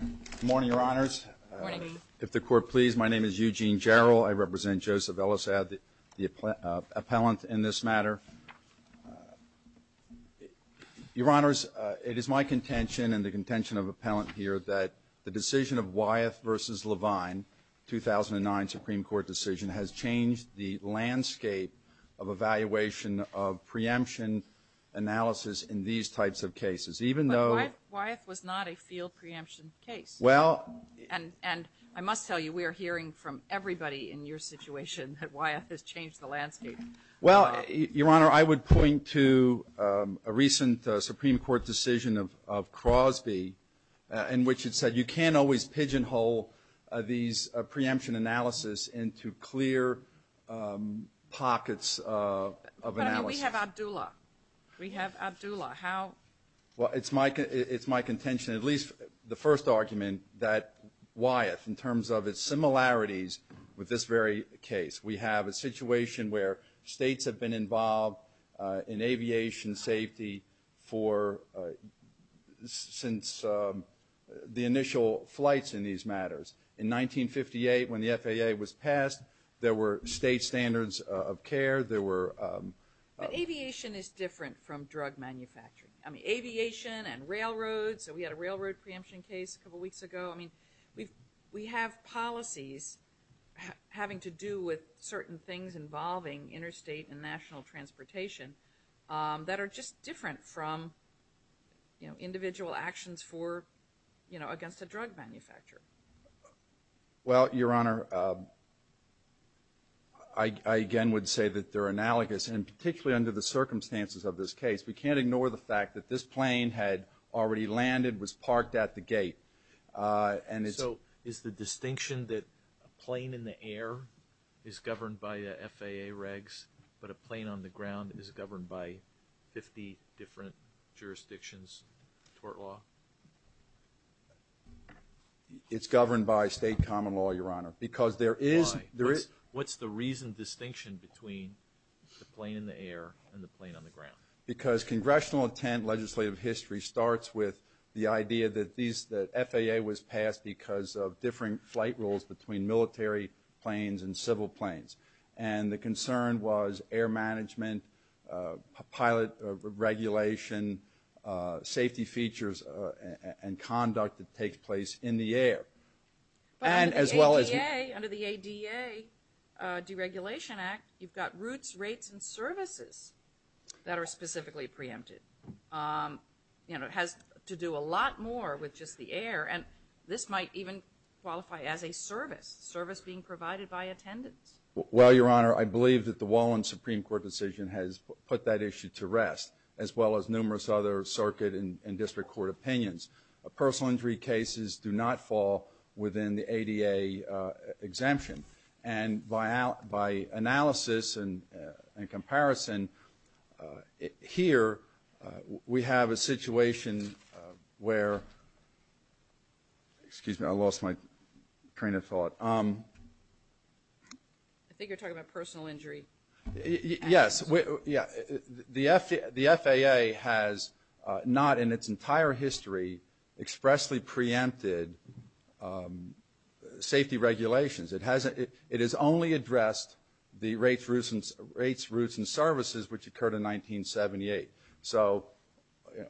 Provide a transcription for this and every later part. Good morning, Your Honors. Good morning. If the Court please, my name is Eugene Jarrell. I represent Joseph Elassad, the appellant in this matter. Your Honors, it is my contention and the contention of appellant here that the decision of Wyeth v. Levine, 2009 Supreme Court decision, has changed the landscape of evaluation of preemption analysis in these types of cases, even though... But Wyeth was not a field preemption case. Well... And I must tell you, we are hearing from everybody in your situation that Wyeth has changed the landscape. Well, Your Honor, I would point to a recent Supreme Court decision of Crosby in which it said you can't always pigeonhole these preemption analysis into clear pockets of analysis. But, I mean, we have Abdullah. We have Abdullah. How... Well, it's my contention, at least the first argument, that Wyeth, in terms of its similarities with this very case, we have a situation where states have been involved in aviation safety since the initial flights in these matters. In 1958, when the FAA was passed, there were state standards of care. There were... But aviation is different from drug manufacturing. I mean, aviation and railroads. We had a railroad preemption case a couple weeks ago. I mean, we have policies having to do with certain things involving interstate and national transportation that are just different from individual actions against a drug manufacturer. Well, Your Honor, I again would say that they're analogous, and particularly under the circumstances of this case. We can't ignore the fact that this plane had already landed, was parked at the gate, and it's... So is the distinction that a plane in the air is governed by FAA regs, but a plane on the ground is governed by 50 different jurisdictions, tort law? It's governed by state common law, Your Honor, because there is... Why? What's the reasoned distinction between the plane in the air and the plane on the ground? Because congressional intent legislative history starts with the idea that FAA was passed because of differing flight rules between military planes and civil planes. And the concern was air management, pilot regulation, safety features, and conduct that takes place in the air. But under the ADA, under the ADA Deregulation Act, you've got routes, rates, and services that are specifically preempted. You know, it has to do a lot more with just the air, and this might even qualify as a service, service being provided by attendants. Well, Your Honor, I believe that the Wallen Supreme Court decision has put that issue to rest, as well as numerous other circuit and district court opinions. Personal injury cases do not fall within the ADA exemption. And by analysis and comparison, here we have a situation where... Excuse me, I lost my train of thought. I think you're talking about personal injury. Yes. The FAA has not in its entire history expressly preempted safety regulations. It has only addressed the rates, routes, and services, which occurred in 1978. So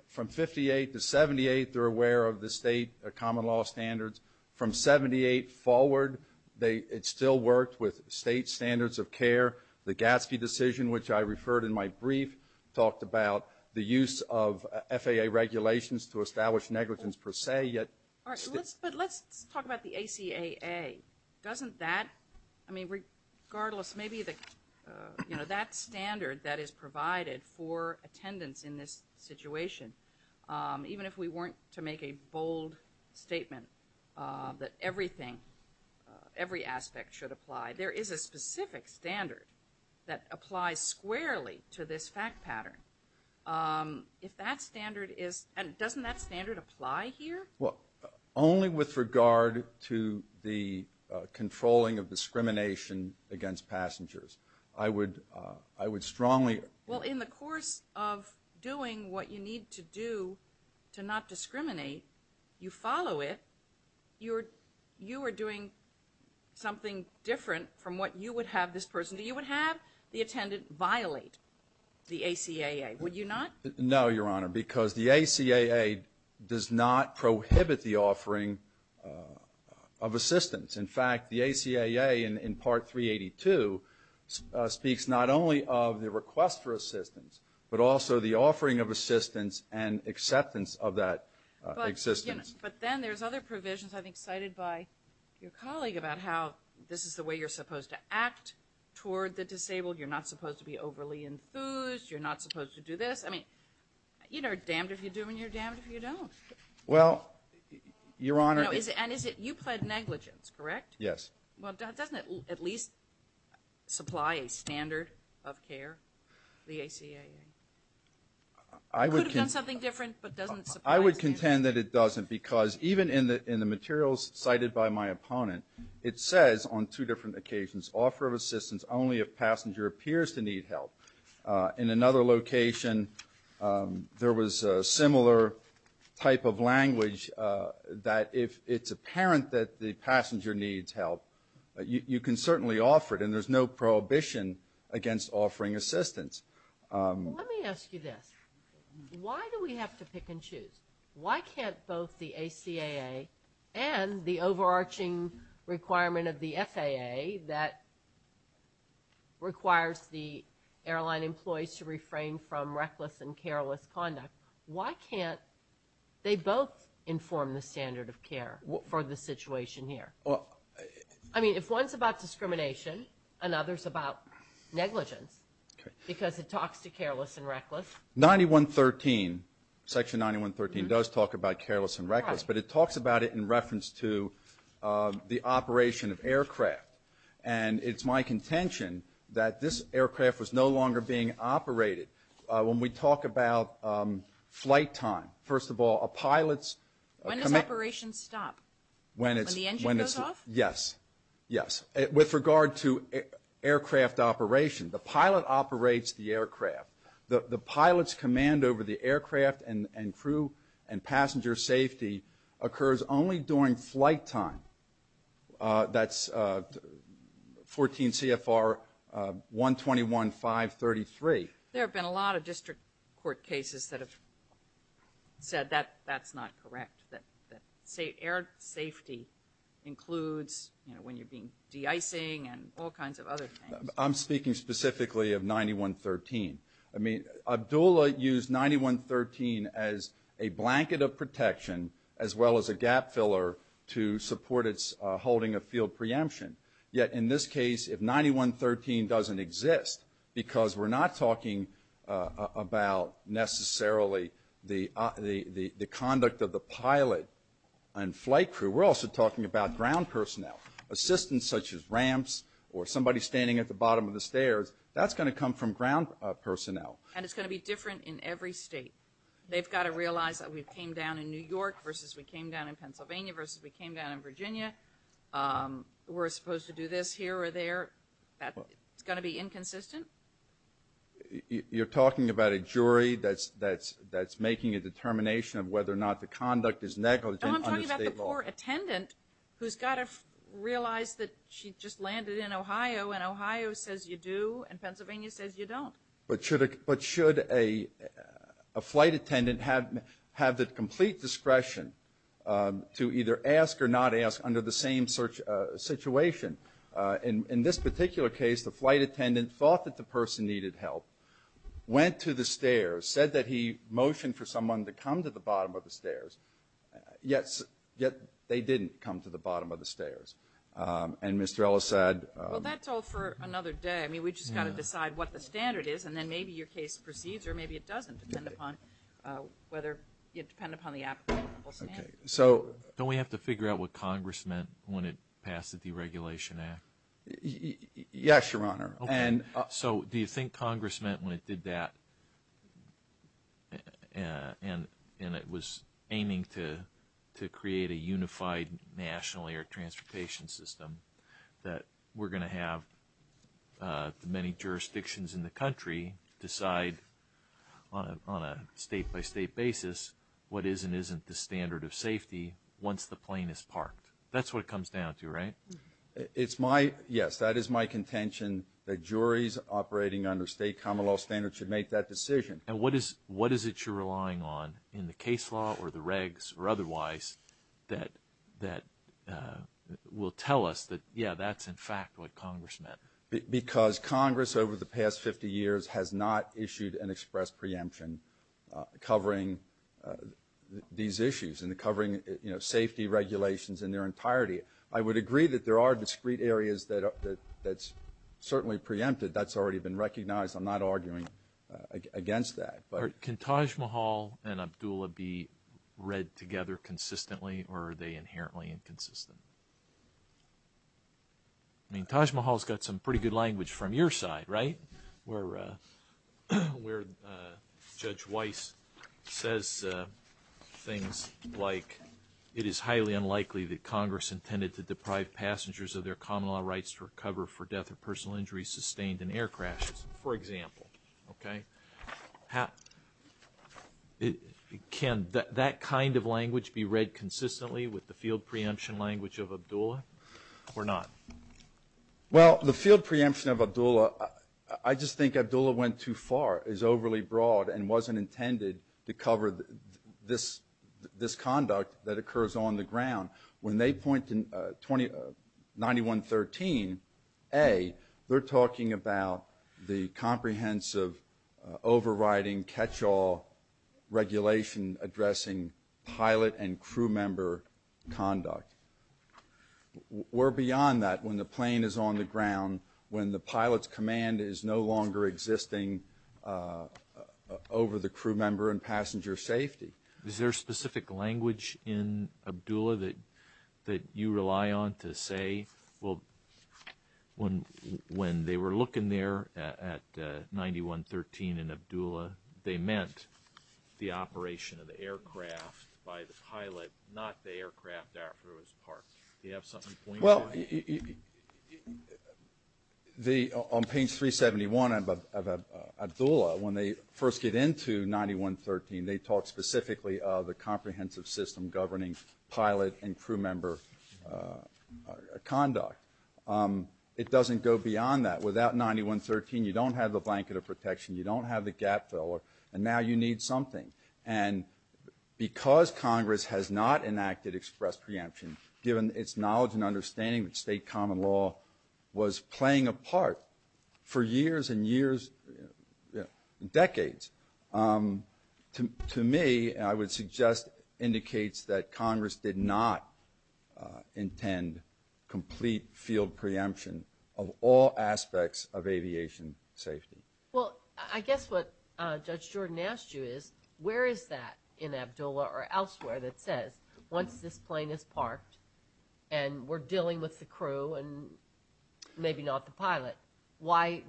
from 58 to 78, they're aware of the state common law standards. From 78 forward, it still worked with state standards of care. The Gatsby decision, which I referred in my brief, talked about the use of FAA regulations to establish negligence per se, yet... But let's talk about the ACAA. Doesn't that, I mean, regardless, maybe the, you know, that standard that is provided for attendance in this situation, even if we weren't to make a bold statement that everything, every aspect should apply, there is a specific standard that applies squarely to this fact pattern. If that standard is, and doesn't that standard apply here? Well, only with regard to the controlling of discrimination against passengers. I would strongly... Well, in the course of doing what you need to do to not discriminate, you follow it. You are doing something different from what you would have this person do. You would have the attendant violate the ACAA, would you not? No, Your Honor, because the ACAA does not prohibit the offering of assistance. In fact, the ACAA in Part 382 speaks not only of the request for assistance, but also the offering of assistance and acceptance of that existence. But then there's other provisions I think cited by your colleague about how this is the way you're supposed to act toward the disabled. You're not supposed to be overly enthused. You're not supposed to do this. I mean, you know, damned if you do and you're damned if you don't. Well, Your Honor... And you pled negligence, correct? Yes. Well, doesn't it at least supply a standard of care, the ACAA? It could have done something different, but doesn't it supply a standard? I would contend that it doesn't because even in the materials cited by my opponent, it says on two different occasions, offer of assistance only if passenger appears to need help. In another location, there was a similar type of language that if it's apparent that the passenger needs help, you can certainly offer it, and there's no prohibition against offering assistance. Let me ask you this. Why do we have to pick and choose? Why can't both the ACAA and the overarching requirement of the FAA that requires the airline employees to refrain from reckless and careless conduct, why can't they both inform the standard of care for the situation here? I mean, if one's about discrimination and another's about negligence, because it talks to careless and reckless. Section 9113 does talk about careless and reckless, but it talks about it in reference to the operation of aircraft, and it's my contention that this aircraft was no longer being operated. When we talk about flight time, first of all, a pilot's command – When does operation stop? When it's – When the engine goes off? Yes, yes. With regard to aircraft operation, the pilot operates the aircraft. The pilot's command over the aircraft and crew and passenger safety occurs only during flight time. That's 14 CFR 121533. There have been a lot of district court cases that have said that that's not correct, that air safety includes, you know, when you're de-icing and all kinds of other things. I'm speaking specifically of 9113. I mean, Abdullah used 9113 as a blanket of protection as well as a gap filler to support its holding of field preemption. Yet in this case, if 9113 doesn't exist, because we're not talking about necessarily the conduct of the pilot and flight crew, we're also talking about ground personnel. Assistants such as ramps or somebody standing at the bottom of the stairs, that's going to come from ground personnel. And it's going to be different in every state. They've got to realize that we came down in New York versus we came down in Pennsylvania versus we came down in Virginia. We're supposed to do this here or there. It's going to be inconsistent. You're talking about a jury that's making a determination of whether or not the conduct is negligent under state law. No, I'm talking about the poor attendant who's got to realize that she just landed in Ohio and Ohio says you do and Pennsylvania says you don't. But should a flight attendant have the complete discretion to either ask or not ask under the same situation? In this particular case, the flight attendant thought that the person needed help, went to the stairs, said that he motioned for someone to come to the bottom of the stairs, yet they didn't come to the bottom of the stairs. And Mr. Ellis said – Well, that's all for another day. I mean, we've just got to decide what the standard is, and then maybe your case proceeds or maybe it doesn't depend upon whether – depend upon the applicable standard. Don't we have to figure out what Congress meant when it passed the Deregulation Act? Yes, Your Honor. So do you think Congress meant when it did that and it was aiming to create a unified national air transportation system that we're going to have the many jurisdictions in the country decide on a state-by-state basis what is and isn't the standard of safety once the plane is parked? That's what it comes down to, right? It's my – yes, that is my contention, that juries operating under state common law standards should make that decision. And what is it you're relying on in the case law or the regs or otherwise that will tell us that, yeah, that's in fact what Congress meant? Because Congress over the past 50 years has not issued an express preemption in covering these issues and covering safety regulations in their entirety. I would agree that there are discrete areas that's certainly preempted. That's already been recognized. I'm not arguing against that. Can Taj Mahal and Abdullah be read together consistently or are they inherently inconsistent? I mean, Taj Mahal's got some pretty good language from your side, right? Where Judge Weiss says things like, it is highly unlikely that Congress intended to deprive passengers of their common law rights to recover for death or personal injuries sustained in air crashes, for example. Okay? Can that kind of language be read consistently with the field preemption language of Abdullah or not? Well, the field preemption of Abdullah, I just think Abdullah went too far, is overly broad and wasn't intended to cover this conduct that occurs on the ground. When they point to 9113A, they're talking about the comprehensive overriding catch-all regulation addressing pilot and crew member conduct. We're beyond that when the plane is on the ground, when the pilot's command is no longer existing over the crew member and passenger safety. Is there specific language in Abdullah that you rely on to say, well, when they were looking there at 9113 in Abdullah, they meant the operation of the aircraft by the pilot, not the aircraft after it was parked. Do you have something to point to? Well, on page 371 of Abdullah, when they first get into 9113, they talk specifically of the comprehensive system governing pilot and crew member conduct. It doesn't go beyond that. Without 9113, you don't have the blanket of protection, you don't have the gap filler, and now you need something. Because Congress has not enacted express preemption, given its knowledge and understanding of state common law, was playing a part for years and years, decades. To me, I would suggest indicates that Congress did not intend complete field preemption of all aspects of aviation safety. Well, I guess what Judge Jordan asked you is, where is that in Abdullah or elsewhere that says, once this plane is parked and we're dealing with the crew and maybe not the pilot, why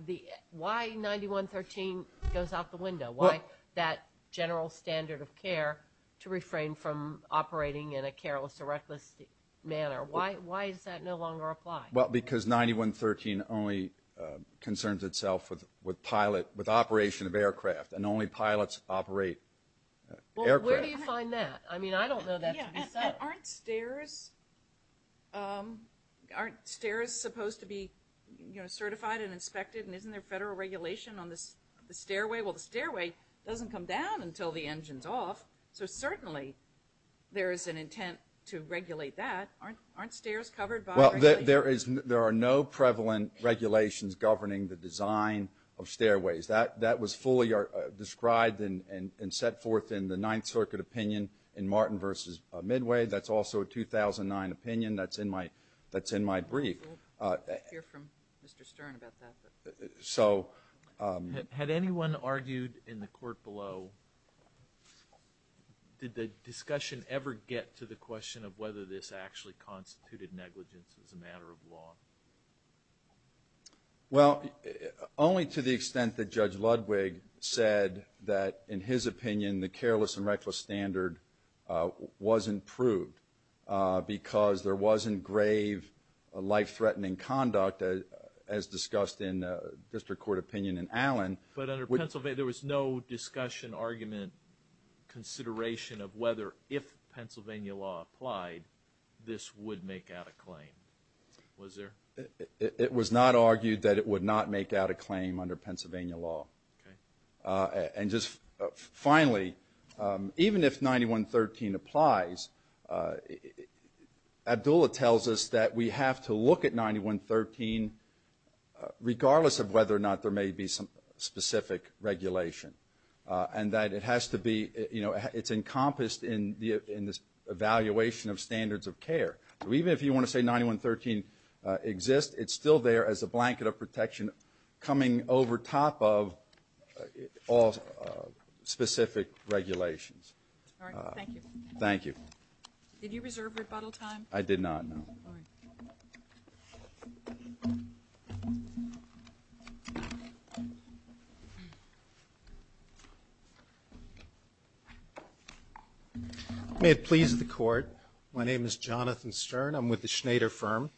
9113 goes out the window? Why that general standard of care to refrain from operating in a careless or reckless manner? Why does that no longer apply? Well, because 9113 only concerns itself with pilot, with operation of aircraft, and only pilots operate aircraft. Well, where do you find that? I mean, I don't know that to be fair. Aren't stairs supposed to be certified and inspected, and isn't there federal regulation on the stairway? Well, the stairway doesn't come down until the engine's off, so certainly there is an intent to regulate that. Aren't stairs covered by regulation? Well, there are no prevalent regulations governing the design of stairways. That was fully described and set forth in the Ninth Circuit opinion in Martin v. Midway. That's also a 2009 opinion that's in my brief. We'll hear from Mr. Stern about that. Had anyone argued in the court below, did the discussion ever get to the question of whether this actually constituted negligence as a matter of law? Well, only to the extent that Judge Ludwig said that, in his opinion, the careless and reckless standard was improved because there wasn't grave life-threatening conduct, as discussed in district court opinion in Allen. But under Pennsylvania, there was no discussion, argument, consideration of whether, if Pennsylvania law applied, this would make out a claim, was there? It was not argued that it would not make out a claim under Pennsylvania law. Okay. And just finally, even if 9113 applies, Abdullah tells us that we have to look at 9113, regardless of whether or not there may be some specific regulation, and that it has to be, you know, it's encompassed in this evaluation of standards of care. So even if you want to say 9113 exists, it's still there as a blanket of protection coming over top of all specific regulations. All right. Thank you. Thank you. Did you reserve rebuttal time? I did not, no. All right. May it please the court. My name is Jonathan Stern. I'm with the Schneider firm.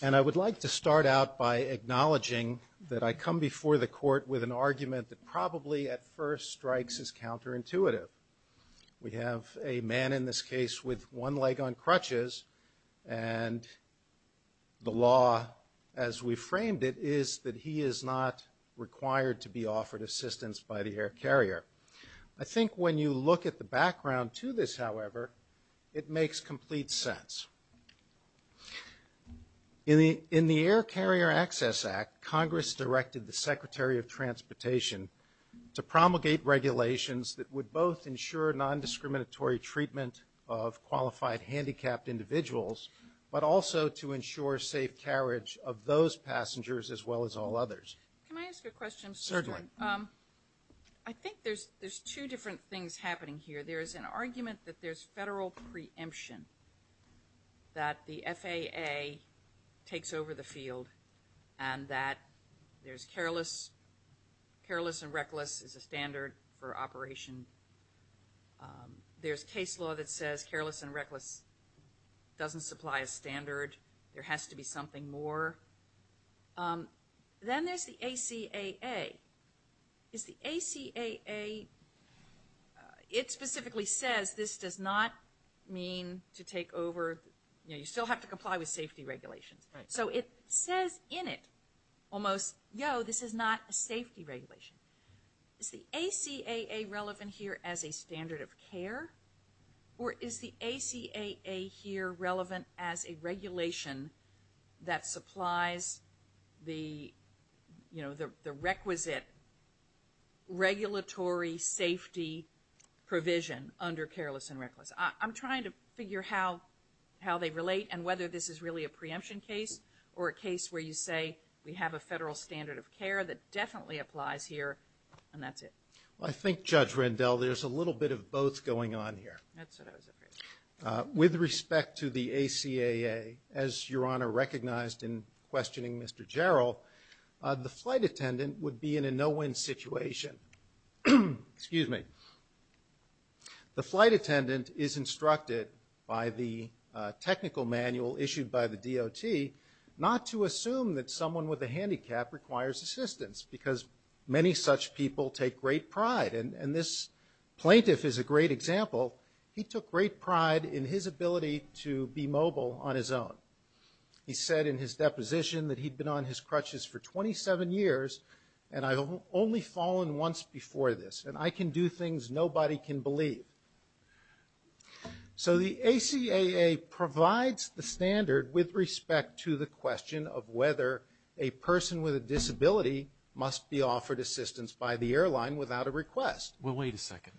And I would like to start out by acknowledging that I come before the court with an argument that probably at first strikes as counterintuitive. We have a man in this case with one leg on crutches, and the law, as we framed it, is that he is not required to be offered assistance by the air carrier. I think when you look at the background to this, however, it makes complete sense. In the Air Carrier Access Act, Congress directed the Secretary of Transportation to promulgate regulations that would both ensure nondiscriminatory treatment of qualified handicapped individuals, but also to ensure safe carriage of those passengers as well as all others. Can I ask a question? Certainly. I think there's two different things happening here. There is an argument that there's federal preemption, that the FAA takes over the field, and that there's careless. Careless and reckless is a standard for operation. There's case law that says careless and reckless doesn't supply a standard. There has to be something more. Then there's the ACAA. The ACAA, it specifically says this does not mean to take over. You still have to comply with safety regulations. So it says in it almost, yo, this is not a safety regulation. Is the ACAA relevant here as a standard of care, or is the ACAA here relevant as a regulation that supplies the requisite regulatory safety provision under careless and reckless? I'm trying to figure how they relate and whether this is really a preemption case or a case where you say we have a federal standard of care that definitely applies here, and that's it. I think, Judge Rendell, there's a little bit of both going on here. That's what I was afraid of. With respect to the ACAA, as Your Honor recognized in questioning Mr. Jarrell, the flight attendant would be in a no-win situation. Excuse me. The flight attendant is instructed by the technical manual issued by the DOT not to assume that someone with a handicap requires assistance, because many such people take great pride. And this plaintiff is a great example. He took great pride in his ability to be mobile on his own. He said in his deposition that he'd been on his crutches for 27 years, and I've only fallen once before this. And I can do things nobody can believe. So the ACAA provides the standard with respect to the question of whether a person with a disability must be offered assistance by the airline without a request. Well, wait a second.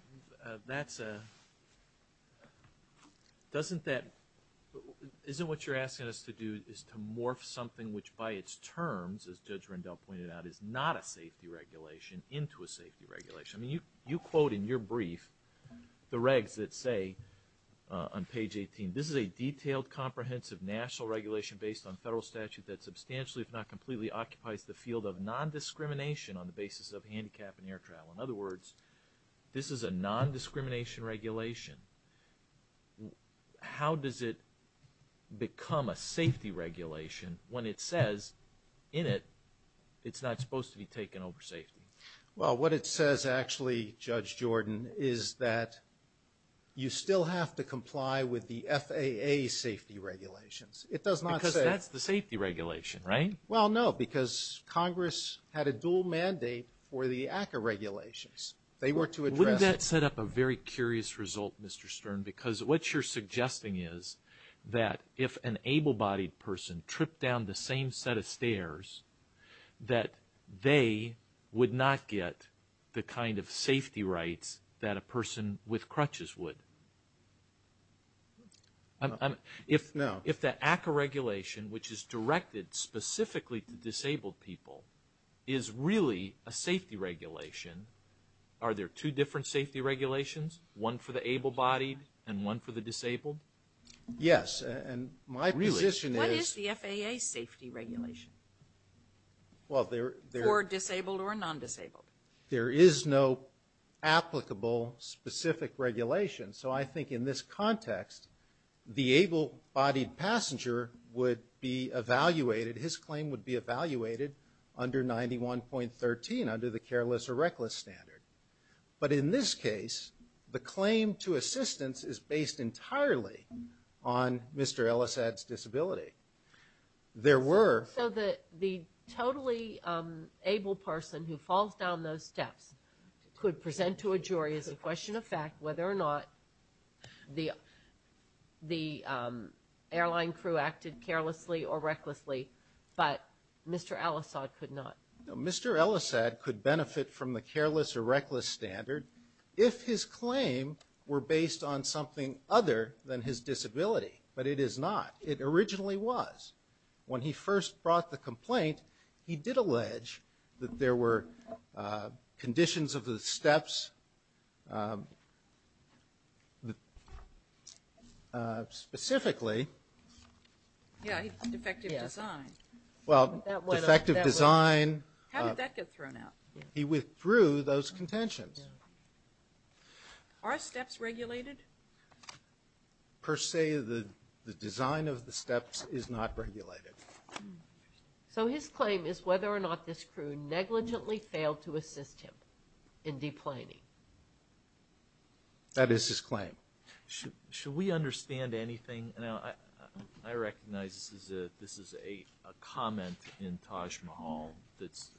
Isn't what you're asking us to do is to morph something which, by its terms, as Judge Rendell pointed out, is not a safety regulation into a safety regulation? I mean, you quote in your brief the regs that say on page 18, this is a detailed, comprehensive national regulation based on federal statute that substantially, if not completely, occupies the field of nondiscrimination on the basis of handicap and air travel. In other words, this is a nondiscrimination regulation. How does it become a safety regulation when it says in it it's not supposed to be taken over safety? Well, what it says actually, Judge Jordan, is that you still have to comply with the FAA safety regulations. Because that's the safety regulation, right? Well, no, because Congress had a dual mandate for the ACAA regulations. They were to address it. Wouldn't that set up a very curious result, Mr. Stern? Because what you're suggesting is that if an able-bodied person tripped down the same set of stairs, that they would not get the kind of safety rights that a person with crutches would. No. If the ACAA regulation, which is directed specifically to disabled people, is really a safety regulation, are there two different safety regulations, one for the able-bodied and one for the disabled? Yes, and my position is... For disabled or non-disabled. There is no applicable specific regulation. So I think in this context, the able-bodied passenger would be evaluated, his claim would be evaluated under 91.13, under the careless or reckless standard. But in this case, the claim to assistance is based entirely on Mr. Ellisad's disability. There were... So the totally able person who falls down those steps could present to a jury as a question of fact whether or not the airline crew acted carelessly or recklessly, but Mr. Ellisad could not. No, Mr. Ellisad could benefit from the careless or reckless standard if his claim were based on something other than his disability, but it is not. It originally was. When he first brought the complaint, he did allege that there were conditions of the steps, specifically... Yeah, defective design. Well, defective design... How did that get thrown out? He withdrew those contentions. Are steps regulated? Per se, the design of the steps is not regulated. So his claim is whether or not this crew negligently failed to assist him in deplaning. That is his claim. Should we understand anything? Now, I recognize this is a comment in Taj Mahal that's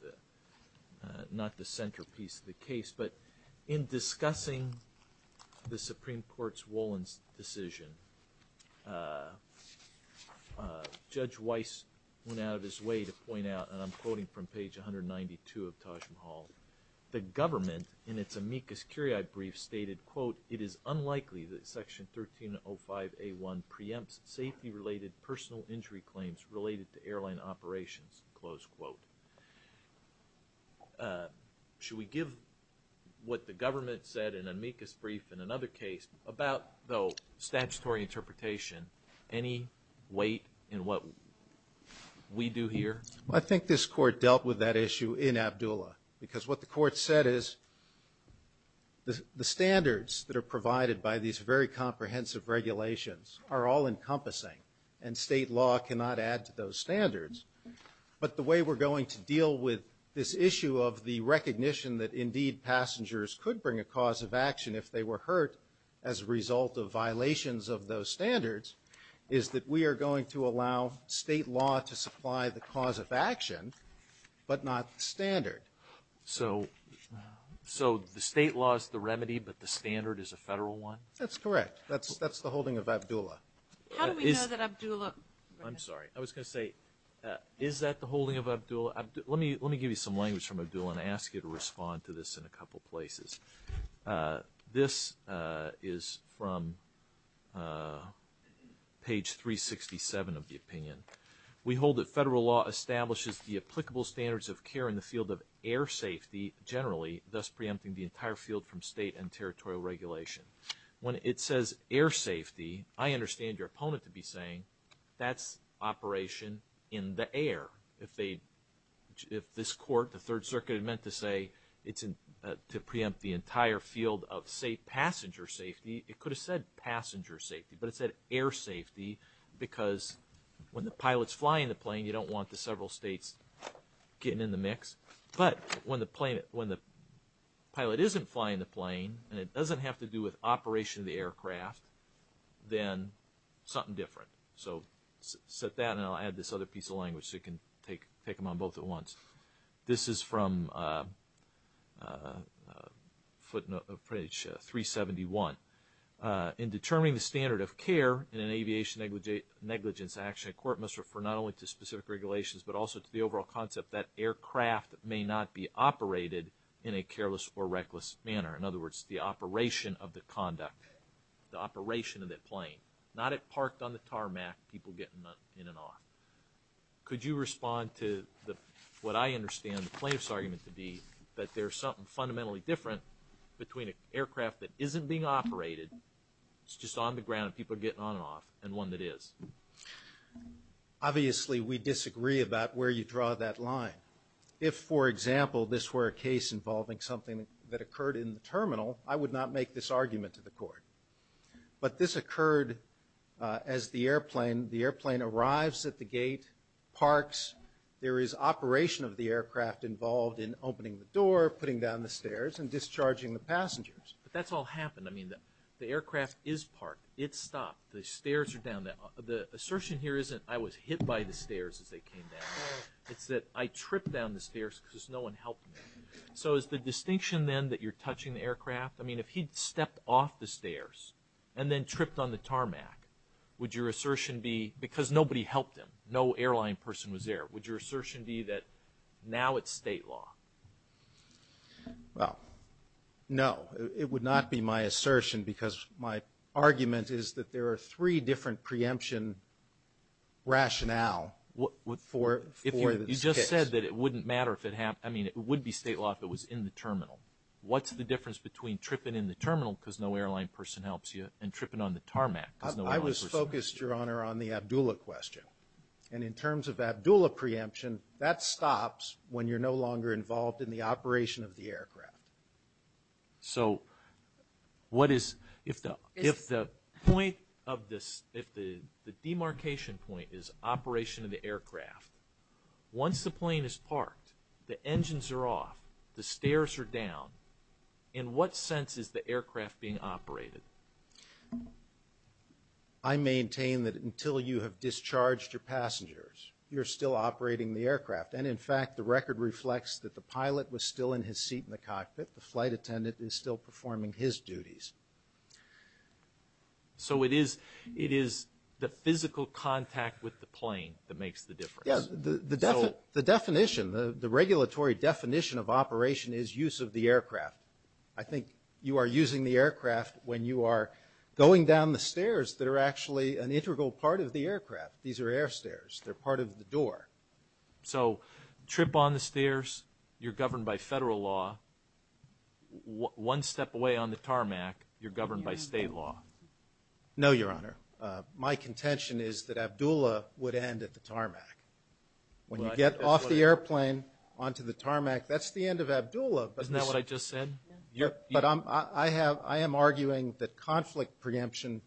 not the centerpiece of the case, but in discussing the Supreme Court's Wollin's decision, Judge Weiss went out of his way to point out, and I'm quoting from page 192 of Taj Mahal, the government, in its amicus curiae brief, stated, quote, it is unlikely that Section 1305A1 preempts safety-related personal injury claims related to airline operations, close quote. Should we give what the government said in amicus brief in another case, about, though, statutory interpretation, any weight in what we do here? I think this Court dealt with that issue in Abdullah, because what the Court said is the standards that are provided by these very comprehensive regulations are all-encompassing, and state law cannot add to those standards. But the way we're going to deal with this issue of the recognition that, indeed, passengers could bring a cause of action if they were hurt as a result of violations of those standards is that we are going to allow state law to supply the cause of action, but not the standard. So the state law is the remedy, but the standard is a federal one? That's correct. That's the holding of Abdullah. How do we know that Abdullah? I'm sorry. I was going to say, is that the holding of Abdullah? Let me give you some language from Abdullah and ask you to respond to this in a couple places. This is from page 367 of the opinion. We hold that federal law establishes the applicable standards of care in the field of air safety generally, thus preempting the entire field from state and territorial regulation. When it says air safety, I understand your opponent to be saying that's operation in the air. If this court, the Third Circuit, meant to say it's to preempt the entire field of, say, passenger safety, it could have said passenger safety, but it said air safety because when the pilot's flying the plane, you don't want the several states getting in the mix. But when the pilot isn't flying the plane and it doesn't have to do with operation of the aircraft, then something different. So set that, and I'll add this other piece of language so you can take them on both at once. This is from page 371. In determining the standard of care in an aviation negligence action, a court must refer not only to specific regulations but also to the overall concept that aircraft may not be operated in a careless or reckless manner. In other words, the operation of the conduct, the operation of that plane, not it parked on the tarmac, people getting in and off. Could you respond to what I understand the plaintiff's argument to be, that there's something fundamentally different between an aircraft that isn't being operated, it's just on the ground and people are getting on and off, and one that is? Obviously, we disagree about where you draw that line. If, for example, this were a case involving something that occurred in the terminal, I would not make this argument to the court. But this occurred as the airplane arrives at the gate, parks, there is operation of the aircraft involved in opening the door, putting down the stairs, and discharging the passengers. But that's all happened. I mean, the aircraft is parked. It's stopped. The stairs are down. The assertion here isn't, I was hit by the stairs as they came down. It's that I tripped down the stairs because no one helped me. So is the distinction then that you're touching the aircraft? I mean, if he'd stepped off the stairs and then tripped on the tarmac, would your assertion be, because nobody helped him, no airline person was there, would your assertion be that now it's state law? Well, no. It would not be my assertion because my argument is that there are three different preemption rationale for this case. You just said that it wouldn't matter if it happened. I mean, it would be state law if it was in the terminal. What's the difference between tripping in the terminal because no airline person helps you and tripping on the tarmac because no airline person helps you? I was focused, Your Honor, on the Abdullah question. And in terms of Abdullah preemption, that stops when you're no longer involved in the operation of the aircraft. So what is, if the point of this, if the demarcation point is operation of the aircraft, once the plane is parked, the engines are off, the stairs are down, in what sense is the aircraft being operated? I maintain that until you have discharged your passengers, you're still operating the aircraft. And, in fact, the record reflects that the pilot was still in his seat in the cockpit, the flight attendant is still performing his duties. So it is the physical contact with the plane that makes the difference. Yes, the definition, the regulatory definition of operation is use of the aircraft. I think you are using the aircraft when you are going down the stairs that are actually an integral part of the aircraft. These are air stairs. They're part of the door. So trip on the stairs, you're governed by federal law. One step away on the tarmac, you're governed by state law. No, Your Honor. My contention is that Abdullah would end at the tarmac. When you get off the airplane onto the tarmac, that's the end of Abdullah. Isn't that what I just said? Yeah. But I am arguing that conflict preemption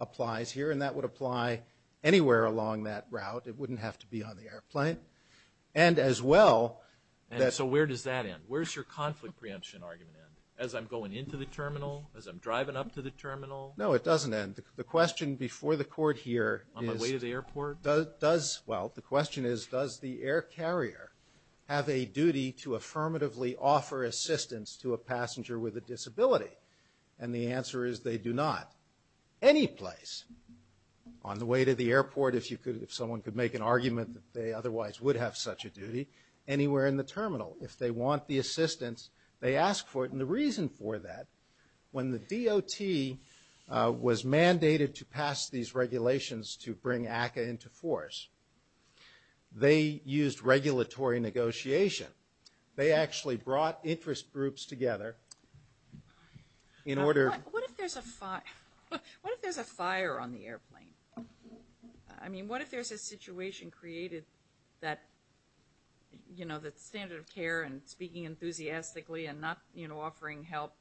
applies here, and that would apply anywhere along that route. It wouldn't have to be on the airplane. And, as well, that... And so where does that end? Where does your conflict preemption argument end? As I'm going into the terminal? As I'm driving up to the terminal? No, it doesn't end. The question before the Court here is... On my way to the airport? Well, the question is, does the air carrier have a duty to affirmatively offer assistance to a passenger with a disability? And the answer is they do not. Any place on the way to the airport, if someone could make an argument that they otherwise would have such a duty, anywhere in the terminal. If they want the assistance, they ask for it. And the reason for that, when the DOT was mandated to pass these regulations to bring ACCA into force, they used regulatory negotiation. They actually brought interest groups together in order... What if there's a fire on the airplane? I mean, what if there's a situation created that, you know, the standard of care and speaking enthusiastically and not, you know, offering help,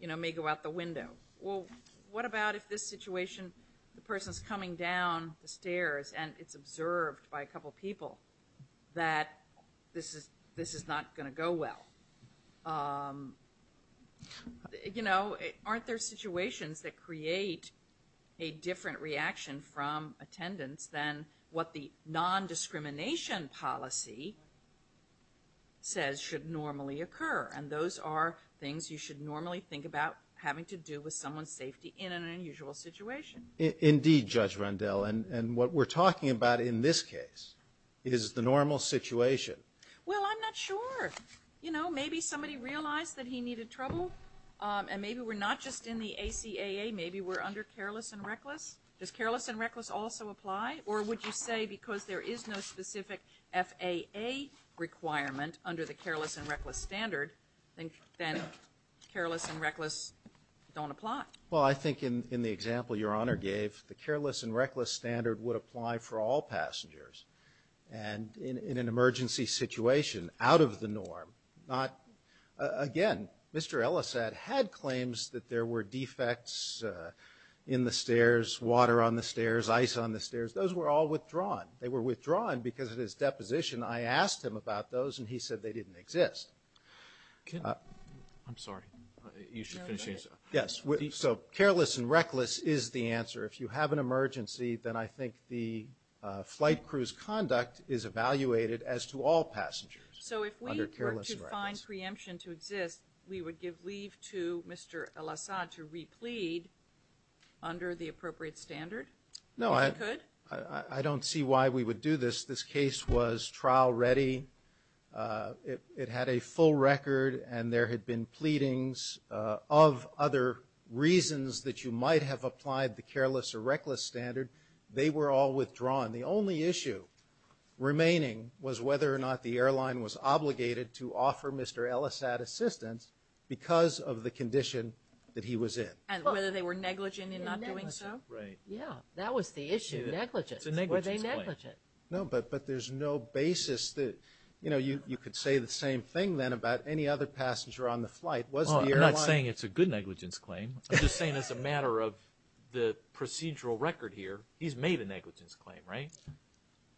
you know, may go out the window? Well, what about if this situation, the person's coming down the stairs and it's observed by a couple people that this is not going to go well? You know, aren't there situations that create a different reaction from attendance than what the non-discrimination policy says should normally occur? And those are things you should normally think about having to do with someone's safety in an unusual situation. Indeed, Judge Rundell. And what we're talking about in this case is the normal situation. Well, I'm not sure. You know, maybe somebody realized that he needed trouble, and maybe we're not just in the ACAA. Maybe we're under careless and reckless. Does careless and reckless also apply? Or would you say because there is no specific FAA requirement under the careless and reckless standard, then careless and reckless don't apply? Well, I think in the example Your Honor gave, the careless and reckless standard would apply for all passengers. And in an emergency situation, out of the norm, not – again, Mr. Ellisad had claims that there were defects in the stairs, water on the stairs, ice on the stairs. Those were all withdrawn. They were withdrawn because of his deposition. I asked him about those, and he said they didn't exist. I'm sorry. You should finish your answer. Yes. So careless and reckless is the answer. If you have an emergency, then I think the flight crew's conduct is evaluated as to all passengers. So if we were to find preemption to exist, we would give leave to Mr. Ellisad to replead under the appropriate standard? No. If we could? I don't see why we would do this. This case was trial ready. It had a full record, and there had been pleadings of other reasons that you might have applied the careless or reckless standard. They were all withdrawn. The only issue remaining was whether or not the airline was obligated to offer Mr. Ellisad assistance because of the condition that he was in. And whether they were negligent in not doing so? Yeah, negligent. Right. Yeah, that was the issue, negligence. Were they negligent? No, but there's no basis that you could say the same thing, then, about any other passenger on the flight. I'm not saying it's a good negligence claim. I'm just saying as a matter of the procedural record here, he's made a negligence claim, right?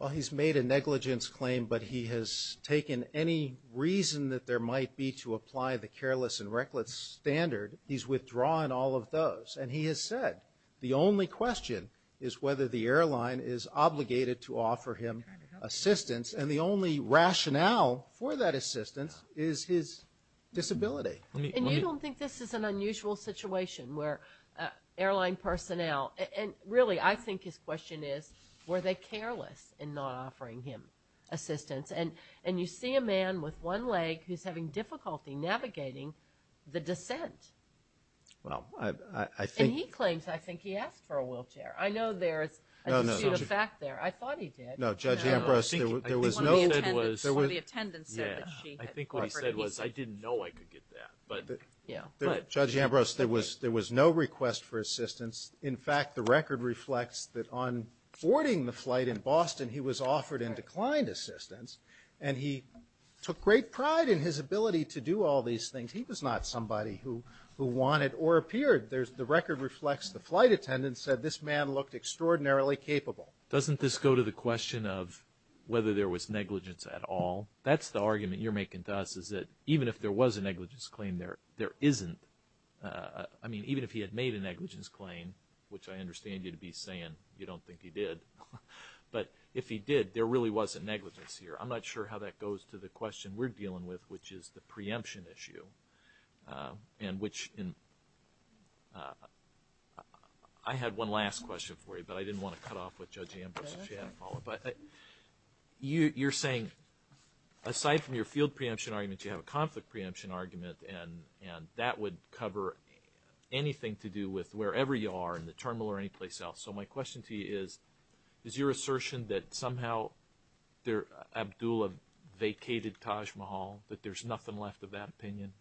Well, he's made a negligence claim, but he has taken any reason that there might be to apply the careless and reckless standard, he's withdrawn all of those. And he has said the only question is whether the airline is obligated to offer him assistance, and the only rationale for that assistance is his disability. And you don't think this is an unusual situation where airline personnel, and really I think his question is, were they careless in not offering him assistance? And you see a man with one leg who's having difficulty navigating the descent. And he claims I think he asked for a wheelchair. I know there's a dispute of fact there. I thought he did. No, Judge Ambrose, there was no. I think what he said was I didn't know I could get that. Judge Ambrose, there was no request for assistance. In fact, the record reflects that on boarding the flight in Boston, he was offered and declined assistance, and he took great pride in his ability to do all these things. He claimed he was not somebody who wanted or appeared. The record reflects the flight attendant said this man looked extraordinarily capable. Doesn't this go to the question of whether there was negligence at all? That's the argument you're making to us, is that even if there was a negligence claim, there isn't. I mean, even if he had made a negligence claim, which I understand you'd be saying you don't think he did, but if he did, there really wasn't negligence here. I'm not sure how that goes to the question we're dealing with, which is the preemption issue. I had one last question for you, but I didn't want to cut off with Judge Ambrose if she hadn't followed. You're saying aside from your field preemption argument, you have a conflict preemption argument, and that would cover anything to do with wherever you are, in the terminal or anyplace else. So my question to you is, is your assertion that somehow Abdullah vacated Taj Mahal, that there's nothing left of that opinion?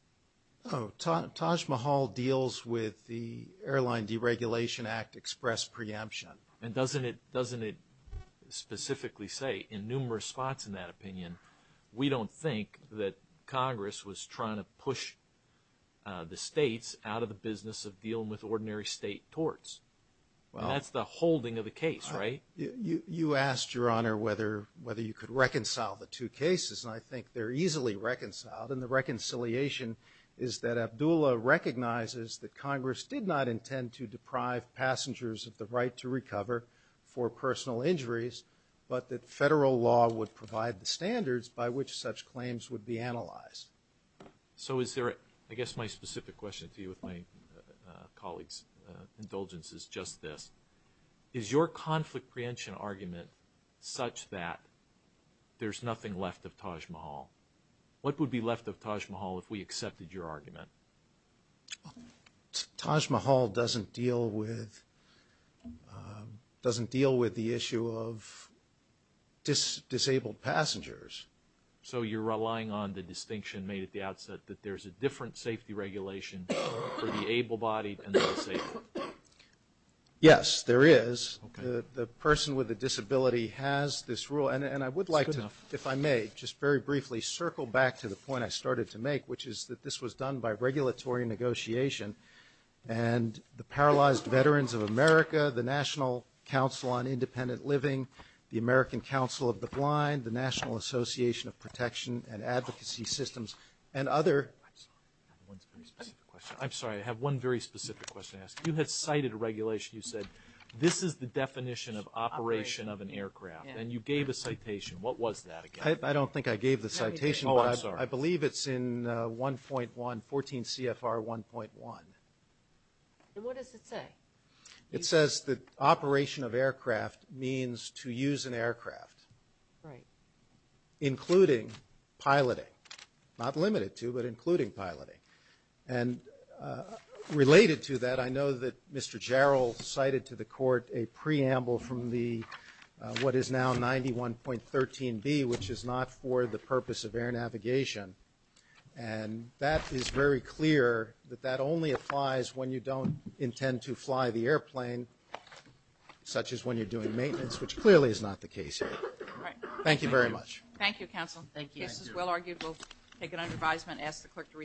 Taj Mahal deals with the Airline Deregulation Act express preemption. And doesn't it specifically say in numerous spots in that opinion, we don't think that Congress was trying to push the states out of the business of dealing with ordinary state torts? That's the holding of the case, right? You asked, Your Honor, whether you could reconcile the two cases, and I think they're easily reconciled. And the reconciliation is that Abdullah recognizes that Congress did not intend to deprive passengers of the right to recover for personal injuries, but that federal law would provide the standards by which such claims would be analyzed. So is there a – I guess my specific question to you with my colleague's indulgence is just this. Is your conflict preemption argument such that there's nothing left of Taj Mahal? What would be left of Taj Mahal if we accepted your argument? Taj Mahal doesn't deal with the issue of disabled passengers. So you're relying on the distinction made at the outset, that there's a different safety regulation for the able-bodied and the disabled? Yes, there is. The person with a disability has this rule, and I would like to, if I may, just very briefly circle back to the point I started to make, which is that this was done by regulatory negotiation, and the Paralyzed Veterans of America, the National Council on Independent Living, the American Council of the Blind, the National Association of Protection and Advocacy Systems, and other – I'm sorry, I have one very specific question to ask. You had cited a regulation. You said this is the definition of operation of an aircraft, and you gave a citation. What was that again? I don't think I gave the citation. Oh, I'm sorry. I believe it's in 1.1, 14 CFR 1.1. And what does it say? It says that operation of aircraft means to use an aircraft. Right. Including piloting. Not limited to, but including piloting. And related to that, I know that Mr. Jarrell cited to the court a preamble from what is now 91.13B, which is not for the purpose of air navigation. And that is very clear that that only applies when you don't intend to fly the airplane, such as when you're doing maintenance, which clearly is not the case here. Thank you very much. Thank you, counsel. Thank you. This is well argued. We'll take it under advisement. I'm going to ask the clerk to recess.